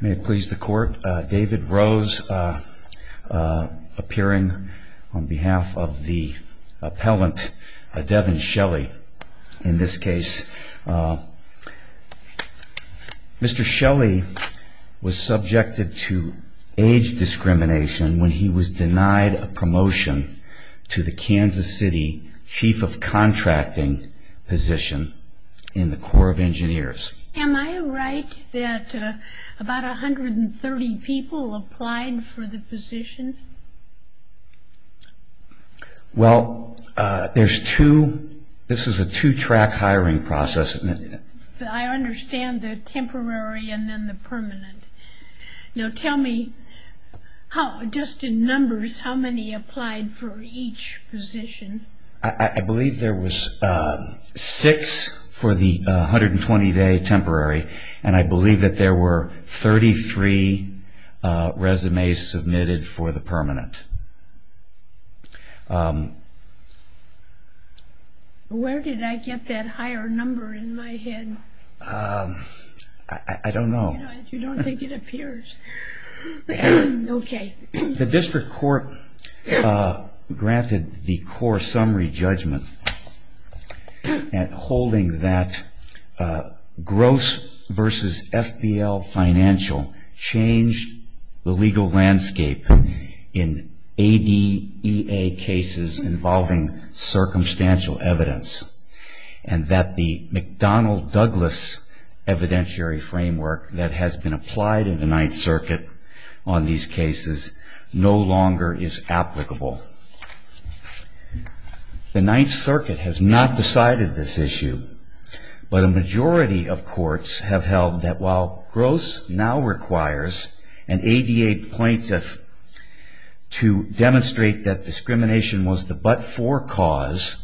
May it please the court, David Rose appearing on behalf of the appellant Devon Shelley in this case. Mr. Shelley was subjected to age discrimination when he was denied a promotion to the Kansas City Chief of Contracting position in the Corps of Engineers. Am I right that about 130 people applied for the position? Well, there's two, this is a two track hiring process. I understand the temporary and then the permanent. Now tell me, just in numbers, how many applied for each position? I believe there was six for the 120 day temporary and I believe that there were 33 resumes submitted for the permanent. Where did I get that higher number in my head? I don't know. You don't think it appears. The district court granted the Corps summary judgment at holding that Gross v. FBL Financial changed the legal landscape in ADEA cases involving circumstantial evidence. And that the McDonnell Douglas evidentiary framework that has been applied in the Ninth Circuit on these cases no longer is applicable. The Ninth Circuit has not decided this issue. But a majority of courts have held that while Gross now requires an ADA plaintiff to demonstrate that discrimination was the but-for cause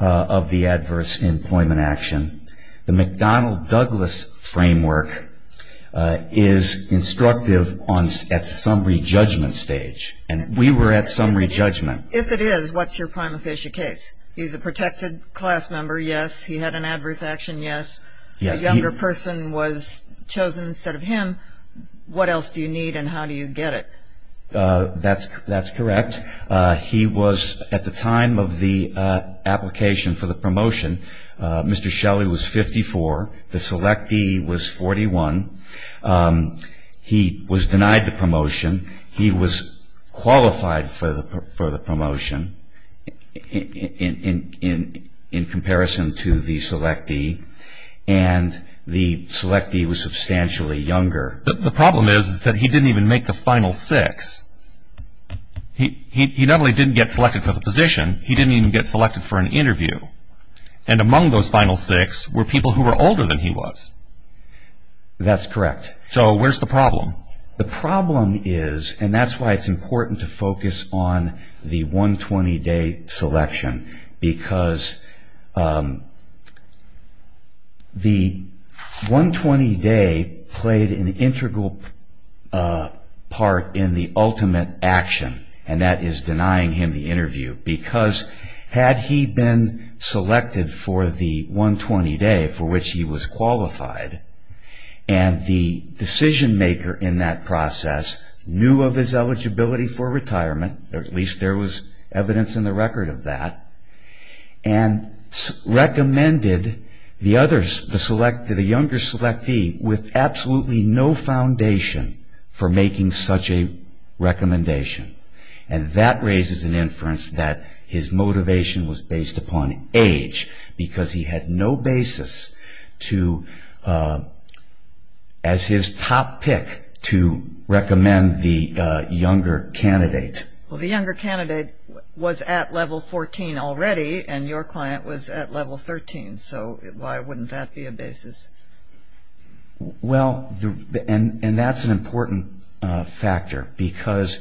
of the adverse employment action, the McDonnell Douglas framework is instructive at summary judgment stage. And we were at summary judgment. If it is, what's your prima facie case? He's a protected class member, yes. He had an adverse action, yes. A younger person was chosen instead of him. What else do you need and how do you get it? That's correct. He was at the time of the application for the promotion, Mr. Shelley was 54, the selectee was 41. He was denied the promotion. He was qualified for the promotion in comparison to the selectee. And the selectee was substantially younger. The problem is that he didn't even make the final six. He not only didn't get selected for the position, he didn't even get selected for an interview. And among those final six were people who were older than he was. That's correct. So where's the problem? The problem is, and that's why it's important to focus on the 120-day selection, because the 120-day played an integral part in the ultimate action, and that is denying him the interview. Because had he been selected for the 120-day, for which he was qualified, and the decision-maker in that process knew of his eligibility for retirement, or at least there was evidence in the record of that, and recommended the younger selectee with absolutely no foundation for making such a recommendation. And that raises an inference that his motivation was based upon age, because he had no basis to, as his top pick, to recommend the younger candidate. Well, the younger candidate was at level 14 already, and your client was at level 13, so why wouldn't that be a basis? Well, and that's an important factor, because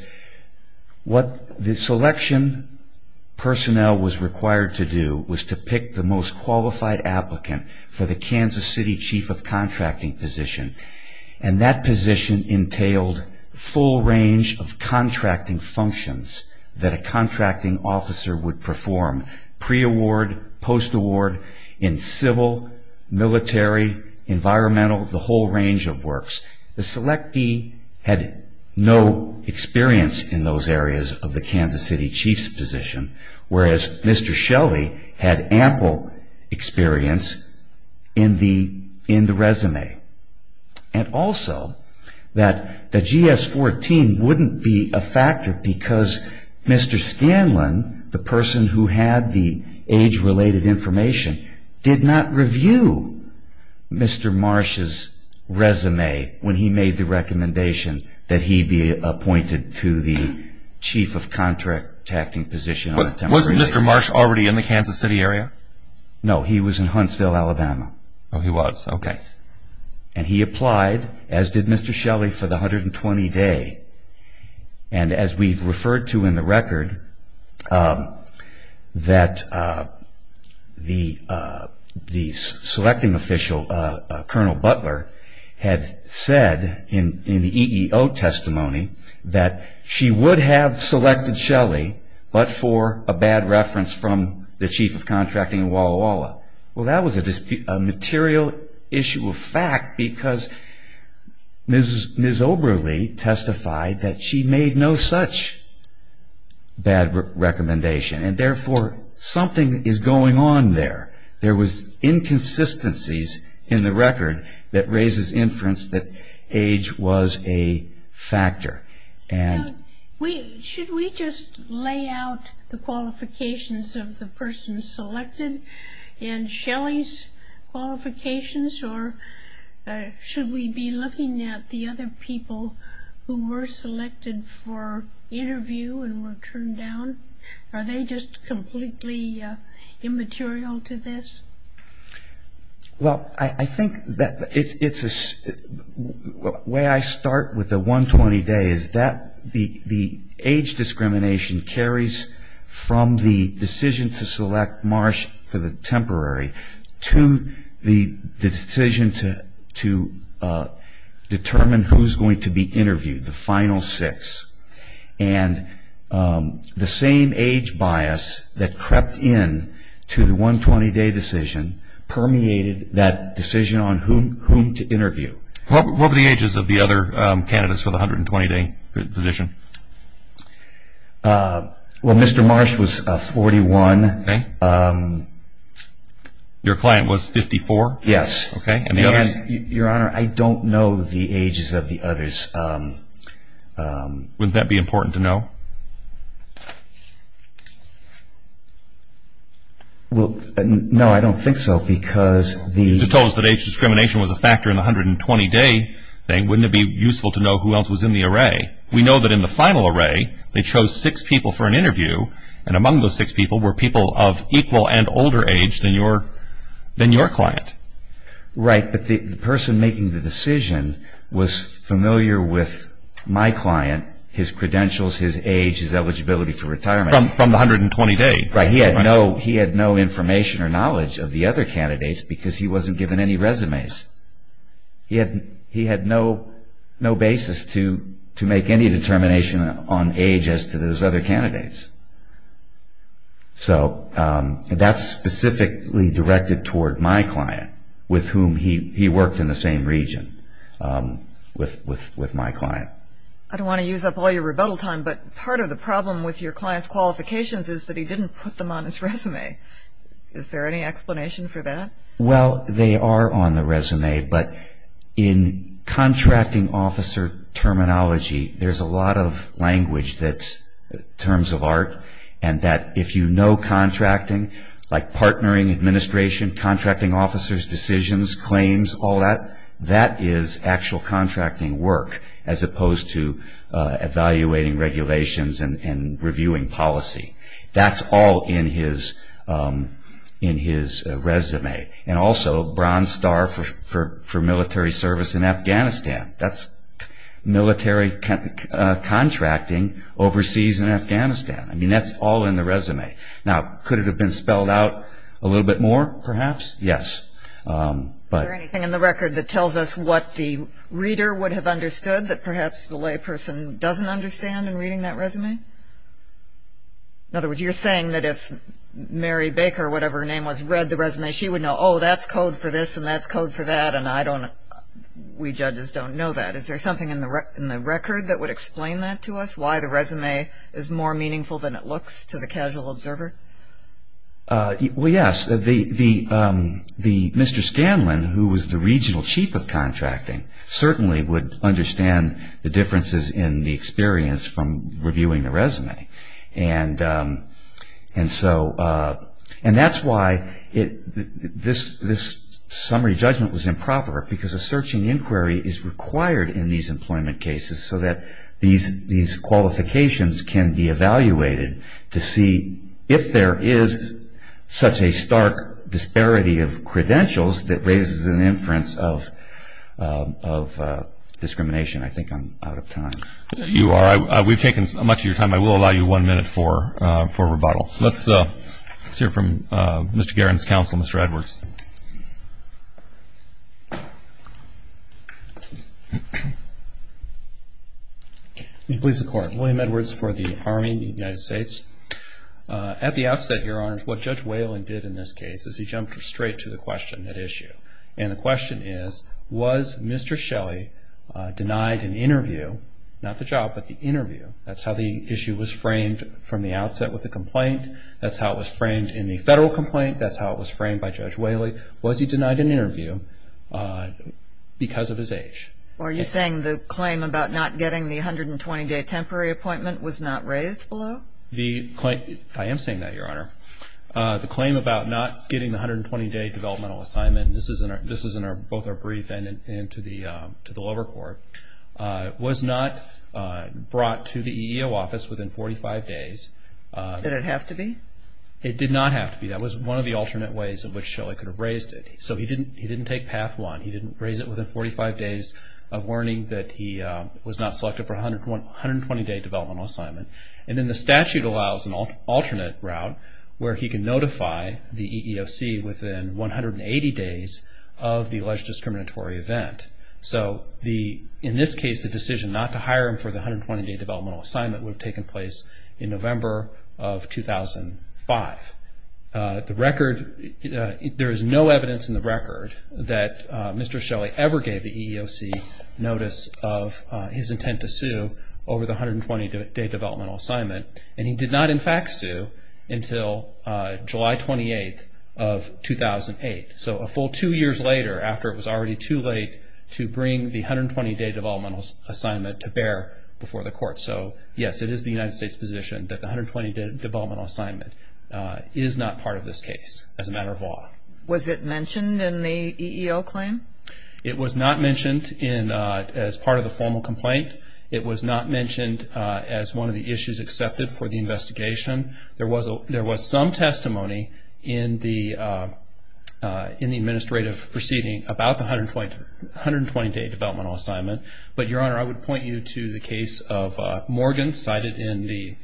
what the selection personnel was required to do was to pick the most qualified applicant for the Kansas City Chief of Contracting position, and that position entailed full range of contracting functions that a contracting officer would perform, pre-award, post-award, in civil, military, environmental, the whole range of works. The selectee had no experience in those areas of the Kansas City Chief's position, whereas Mr. Shelley had ample experience in the resume. And also that the GS-14 wouldn't be a factor because Mr. Scanlon, the person who had the age-related information, did not review Mr. Marsh's resume when he made the recommendation that he be appointed to the Chief of Contracting position. Wasn't Mr. Marsh already in the Kansas City area? No, he was in Huntsville, Alabama. Oh, he was. Okay. And he applied, as did Mr. Shelley, for the 120-day. And as we've referred to in the record, that the selecting official, Colonel Butler, had said in the EEO testimony that she would have selected Shelley, but for a bad reference from the Chief of Contracting in Walla Walla. Well, that was a material issue of fact because Ms. Oberle testified that she made no such bad recommendation, and therefore something is going on there. There was inconsistencies in the record that raises inference that age was a factor. Should we just lay out the qualifications of the person selected in Shelley's qualifications, or should we be looking at the other people who were selected for interview and were turned down? Are they just completely immaterial to this? Well, I think the way I start with the 120-day is that the age discrimination carries from the decision to select Marsh for the temporary to the decision to determine who's going to be interviewed, the final six. And the same age bias that crept into the 120-day decision permeated that decision on whom to interview. What were the ages of the other candidates for the 120-day position? Well, Mr. Marsh was 41. Your client was 54? Yes. And the others? Wouldn't that be important to know? No, I don't think so because the You just told us that age discrimination was a factor in the 120-day thing. Wouldn't it be useful to know who else was in the array? We know that in the final array, they chose six people for an interview, and among those six people were people of equal and older age than your client. Right, but the person making the decision was familiar with my client, his credentials, his age, his eligibility for retirement. From the 120-day. Right. He had no information or knowledge of the other candidates because he wasn't given any resumes. He had no basis to make any determination on age as to those other candidates. So that's specifically directed toward my client with whom he worked in the same region with my client. I don't want to use up all your rebuttal time, but part of the problem with your client's qualifications is that he didn't put them on his resume. Is there any explanation for that? Well, they are on the resume, but in contracting officer terminology, there's a lot of language that's terms of art and that if you know contracting, like partnering, administration, contracting officers, decisions, claims, all that, that is actual contracting work as opposed to evaluating regulations and reviewing policy. That's all in his resume. And also, bronze star for military service in Afghanistan. That's military contracting overseas in Afghanistan. I mean, that's all in the resume. Now, could it have been spelled out a little bit more, perhaps? Yes. Is there anything in the record that tells us what the reader would have understood that perhaps the layperson doesn't understand in reading that resume? In other words, you're saying that if Mary Baker, whatever her name was, read the resume, she would know, oh, that's code for this and that's code for that, and we judges don't know that. Is there something in the record that would explain that to us, why the resume is more meaningful than it looks to the casual observer? Well, yes. Mr. Scanlon, who was the regional chief of contracting, certainly would understand the differences in the experience from reviewing the resume. And so that's why this summary judgment was improper, because a searching inquiry is required in these employment cases so that these qualifications can be evaluated to see if there is such a stark disparity of credentials that raises an inference of discrimination. I think I'm out of time. You are. We've taken much of your time. I will allow you one minute for rebuttal. Let's hear from Mr. Guerin's counsel, Mr. Edwards. Please support. William Edwards for the Army of the United States. At the outset, Your Honors, what Judge Whalen did in this case is he jumped straight to the question at issue. And the question is, was Mr. Shelley denied an interview, not the job, but the interview? That's how the issue was framed from the outset with the complaint. That's how it was framed in the federal complaint. That's how it was framed by Judge Whaley. Was he denied an interview because of his age? Are you saying the claim about not getting the 120-day temporary appointment was not raised below? I am saying that, Your Honor. The claim about not getting the 120-day developmental assignment, and this is both in our brief and to the lower court, was not brought to the EEO office within 45 days. Did it have to be? It did not have to be. That was one of the alternate ways in which Shelley could have raised it. So he didn't take Path 1. He didn't raise it within 45 days of learning that he was not selected for a 120-day developmental assignment. And then the statute allows an alternate route where he can notify the EEOC within 180 days of the alleged discriminatory event. So, in this case, the decision not to hire him for the 120-day developmental assignment would have taken place in November of 2005. There is no evidence in the record that Mr. Shelley ever gave the EEOC notice of his intent to sue over the 120-day developmental assignment, and he did not, in fact, sue until July 28th of 2008. So a full two years later after it was already too late to bring the 120-day developmental assignment to bear before the court. So, yes, it is the United States' position that the 120-day developmental assignment is not part of this case as a matter of law. Was it mentioned in the EEO claim? It was not mentioned as part of the formal complaint. It was not mentioned as one of the issues accepted for the investigation. There was some testimony in the administrative proceeding about the 120-day developmental assignment, but, Your Honor, I would point you to the case of Morgan cited in the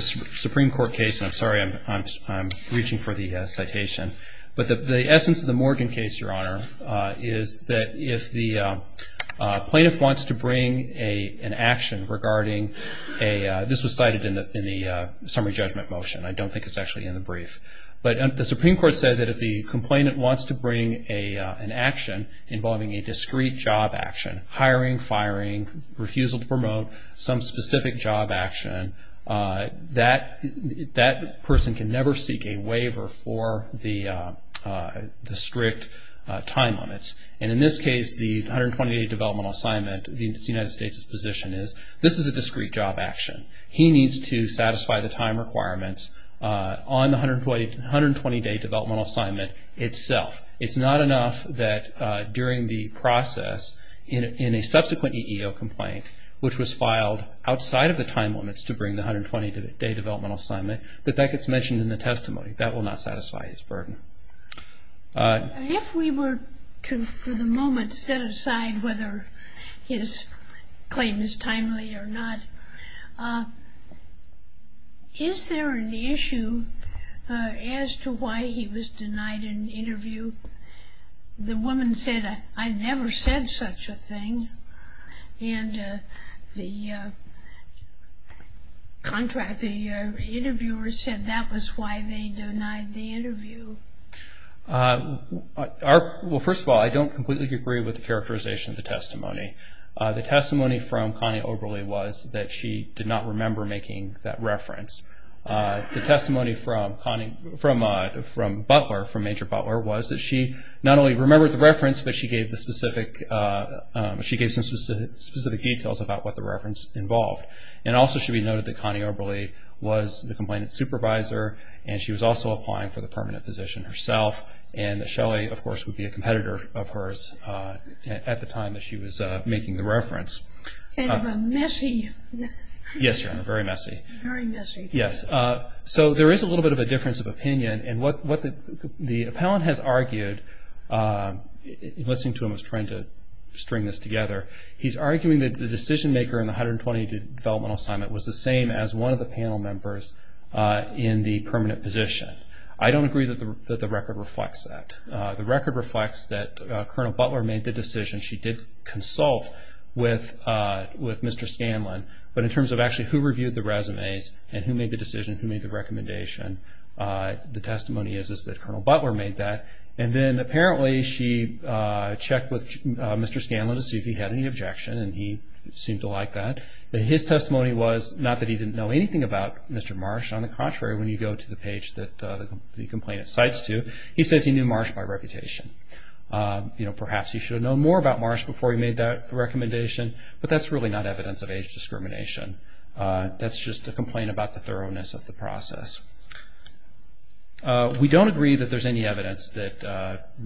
Supreme Court case. I'm sorry I'm reaching for the citation. But the essence of the Morgan case, Your Honor, is that if the plaintiff wants to bring an action regarding a – this was cited in the summary judgment motion. I don't think it's actually in the brief. But the Supreme Court said that if the complainant wants to bring an action job action, that person can never seek a waiver for the strict time limits. And in this case, the 120-day developmental assignment, the United States' position is this is a discrete job action. He needs to satisfy the time requirements on the 120-day developmental assignment itself. It's not enough that during the process in a subsequent EEO complaint, which was filed outside of the time limits to bring the 120-day developmental assignment, that that gets mentioned in the testimony. That will not satisfy his burden. If we were to for the moment set aside whether his claim is timely or not, is there an issue as to why he was denied an interview? The woman said, I never said such a thing. And the interviewer said that was why they denied the interview. Well, first of all, I don't completely agree with the characterization of the testimony. The testimony from Connie Oberle was that she did not remember making that reference. The testimony from Butler, from Major Butler, was that she not only remembered the reference, but she gave some specific details about what the reference involved. And also should be noted that Connie Oberle was the complainant's supervisor, and she was also applying for the permanent position herself, and that Shelley, of course, would be a competitor of hers at the time that she was making the reference. And a messy. Yes, sir, and a very messy. Very messy. Yes. So there is a little bit of a difference of opinion. The appellant has argued, in listening to him, was trying to string this together. He's arguing that the decision-maker in the 120-day developmental assignment was the same as one of the panel members in the permanent position. I don't agree that the record reflects that. The record reflects that Colonel Butler made the decision. She did consult with Mr. Scanlon. But in terms of actually who reviewed the resumes and who made the decision, who made the recommendation, the testimony is that Colonel Butler made that. And then apparently she checked with Mr. Scanlon to see if he had any objection, and he seemed to like that. But his testimony was not that he didn't know anything about Mr. Marsh. On the contrary, when you go to the page that the complainant cites to, he says he knew Marsh by reputation. Perhaps he should have known more about Marsh before he made that recommendation, but that's really not evidence of age discrimination. That's just a complaint about the thoroughness of the process. We don't agree that there's any evidence that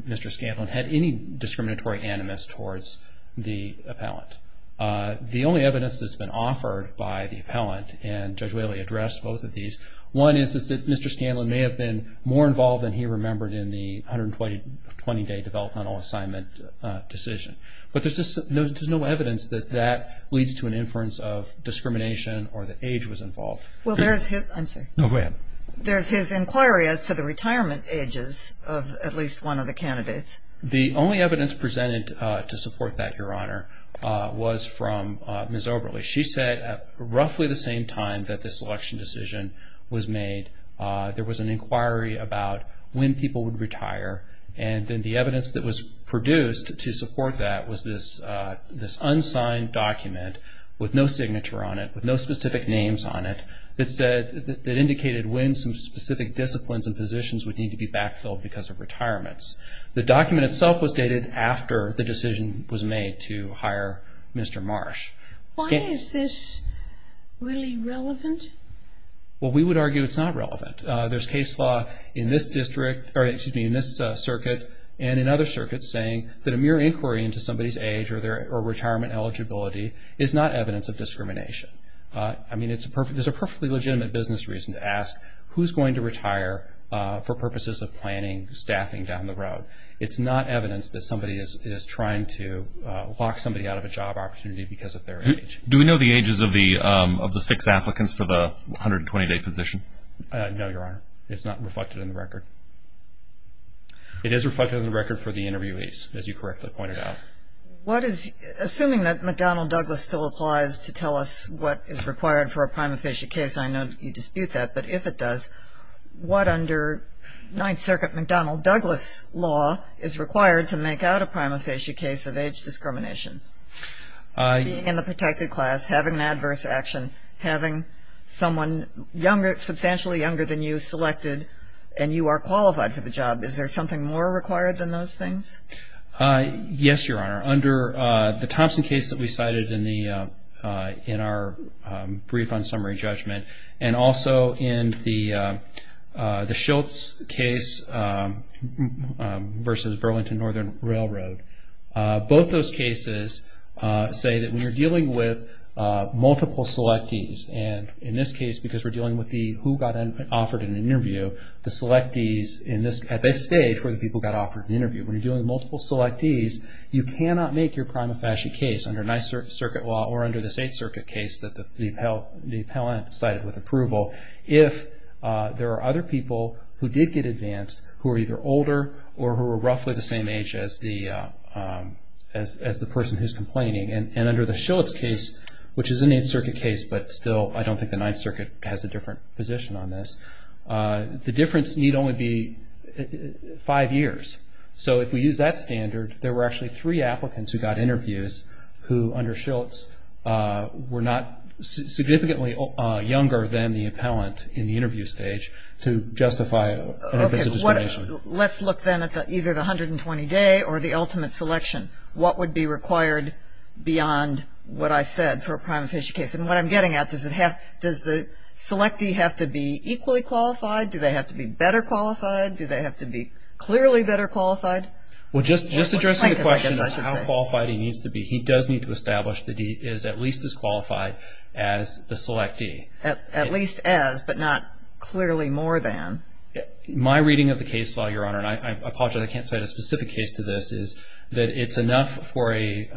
Mr. Scanlon had any discriminatory animus towards the appellant. The only evidence that's been offered by the appellant, and Judge Whaley addressed both of these, one is that Mr. Scanlon may have been more involved than he remembered in the 120-day developmental assignment decision. But there's just no evidence that that leads to an inference of discrimination or that age was involved. Well, there's his inquiry as to the retirement ages of at least one of the candidates. The only evidence presented to support that, Your Honor, was from Ms. Oberle. She said at roughly the same time that this election decision was made, there was an inquiry about when people would retire, and then the evidence that was produced to support that was this unsigned document with no signature on it, with no specific names on it, that indicated when some specific disciplines and positions would need to be backfilled because of retirements. The document itself was dated after the decision was made to hire Mr. Marsh. Why is this really relevant? Well, we would argue it's not relevant. There's case law in this circuit and in other circuits saying that a mere inquiry into somebody's age or retirement eligibility is not evidence of discrimination. I mean, there's a perfectly legitimate business reason to ask who's going to retire for purposes of planning staffing down the road. It's not evidence that somebody is trying to lock somebody out of a job opportunity because of their age. Do we know the ages of the six applicants for the 120-day position? No, Your Honor. It's not reflected in the record. It is reflected in the record for the interviewees, as you correctly pointed out. Assuming that McDonnell-Douglas still applies to tell us what is required for a prima facie case, I know you dispute that, but if it does, what under Ninth Circuit McDonnell-Douglas law is required to make out a prima facie case of age discrimination? Being in the protected class, having an adverse action, and having someone substantially younger than you selected and you are qualified for the job, is there something more required than those things? Yes, Your Honor. Under the Thompson case that we cited in our brief on summary judgment and also in the Schultz case versus Burlington Northern Railroad, both those cases say that when you're dealing with multiple selectees, and in this case because we're dealing with who got offered an interview, the selectees at this stage where the people got offered an interview, when you're dealing with multiple selectees, you cannot make your prima facie case under Ninth Circuit law or under the Eighth Circuit case that the appellant cited with approval if there are other people who did get advanced who are either older or who are roughly the same age as the person who's complaining. And under the Schultz case, which is an Eighth Circuit case, but still I don't think the Ninth Circuit has a different position on this, the difference need only be five years. So if we use that standard, there were actually three applicants who got interviews who under Schultz were not significantly younger than the appellant in the interview stage to justify an adverse discrimination. Let's look then at either the 120-day or the ultimate selection. What would be required beyond what I said for a prima facie case? And what I'm getting at, does the selectee have to be equally qualified? Do they have to be better qualified? Do they have to be clearly better qualified? Well, just addressing the question of how qualified he needs to be, he does need to establish that he is at least as qualified as the selectee. At least as, but not clearly more than. My reading of the case law, Your Honor, and I apologize I can't cite a specific case to this, is that it's enough for a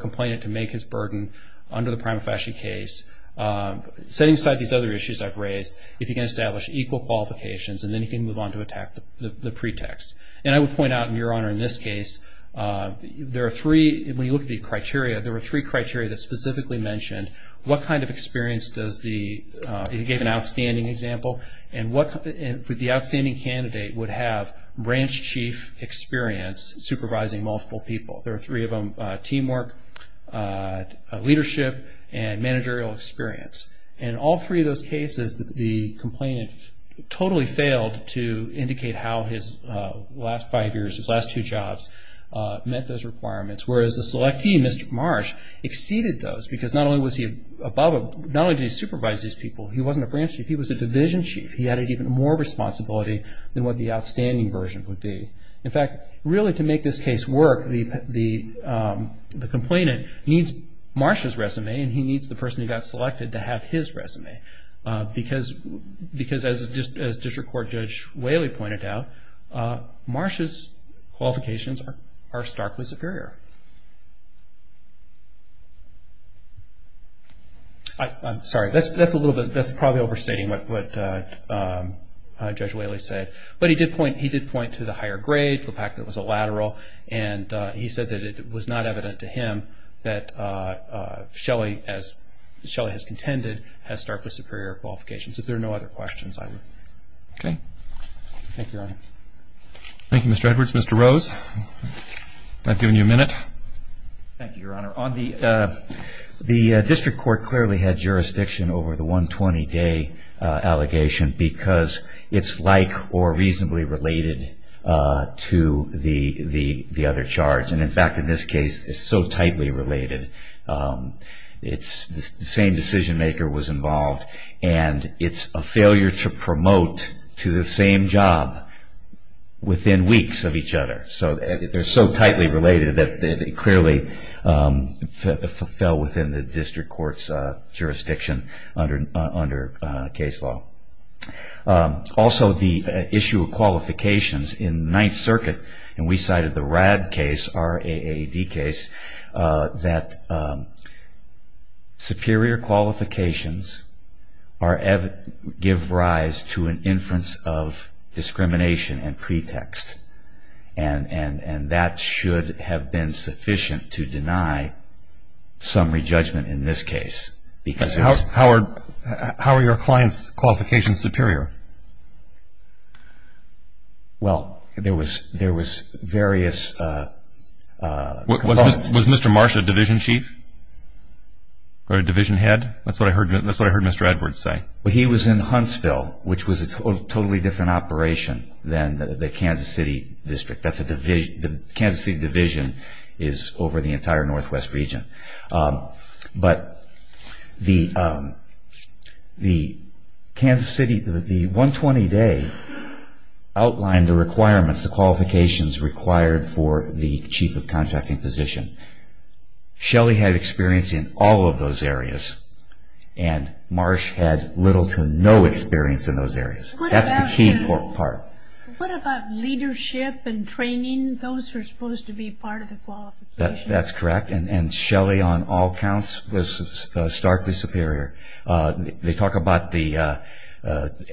complainant to make his burden under the prima facie case, setting aside these other issues I've raised, if he can establish equal qualifications and then he can move on to attack the pretext. And I would point out, Your Honor, in this case, there are three, when you look at the criteria, there were three criteria that specifically mentioned what kind of experience does the, you gave an outstanding example, and what the outstanding candidate would have branch chief experience supervising multiple people. There are three of them, teamwork, leadership, and managerial experience. In all three of those cases, the complainant totally failed to indicate how his last five years, his last two jobs met those requirements. Whereas the selectee, Mr. Marsh, exceeded those because not only did he supervise these people, he wasn't a branch chief. He was a division chief. He had even more responsibility than what the outstanding version would be. In fact, really to make this case work, the complainant needs Marsh's resume and he needs the person he got selected to have his resume. Because as District Court Judge Whaley pointed out, Marsh's qualifications are starkly superior. I'm sorry, that's a little bit, that's probably overstating what Judge Whaley said. But he did point to the higher grade, the fact that it was a lateral, and he said that it was not evident to him that Shelley, as Shelley has contended, has starkly superior qualifications. If there are no other questions, I would. Okay. Thank you, Your Honor. Thank you, Mr. Edwards. Mr. Rose, I've given you a minute. Thank you, Your Honor. The District Court clearly had jurisdiction over the 120-day allegation because it's like or reasonably related to the other charge. And, in fact, in this case, it's so tightly related. The same decision maker was involved, and it's a failure to promote to the same job within weeks of each other. So they're so tightly related that it clearly fell within the District Court's jurisdiction under case law. Also, the issue of qualifications in Ninth Circuit, and we cited the RAD case, R-A-A-D case, that superior qualifications give rise to an inference of discrimination and pretext. And that should have been sufficient to deny summary judgment in this case. How are your clients' qualifications superior? Well, there was various components. Was Mr. Marsh a division chief or a division head? That's what I heard Mr. Edwards say. Well, he was in Huntsville, which was a totally different operation than the Kansas City District. The Kansas City Division is over the entire Northwest region. But the 120-day outlined the requirements, the qualifications required for the chief of contracting position. Shelly had experience in all of those areas, and Marsh had little to no experience in those areas. That's the key part. What about leadership and training? Those were supposed to be part of the qualifications. That's correct. And Shelly, on all counts, was starkly superior. They talk about the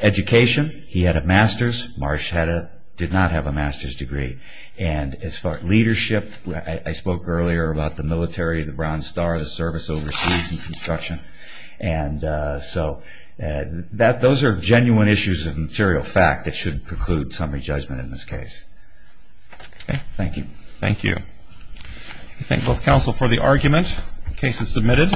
education. He had a master's. Marsh did not have a master's degree. And as far as leadership, I spoke earlier about the military, the Brown Star, the service overseas and construction. And so those are genuine issues of material fact that should preclude summary judgment in this case. Okay. Thank you. Thank you. I thank both counsel for the argument. The case is submitted.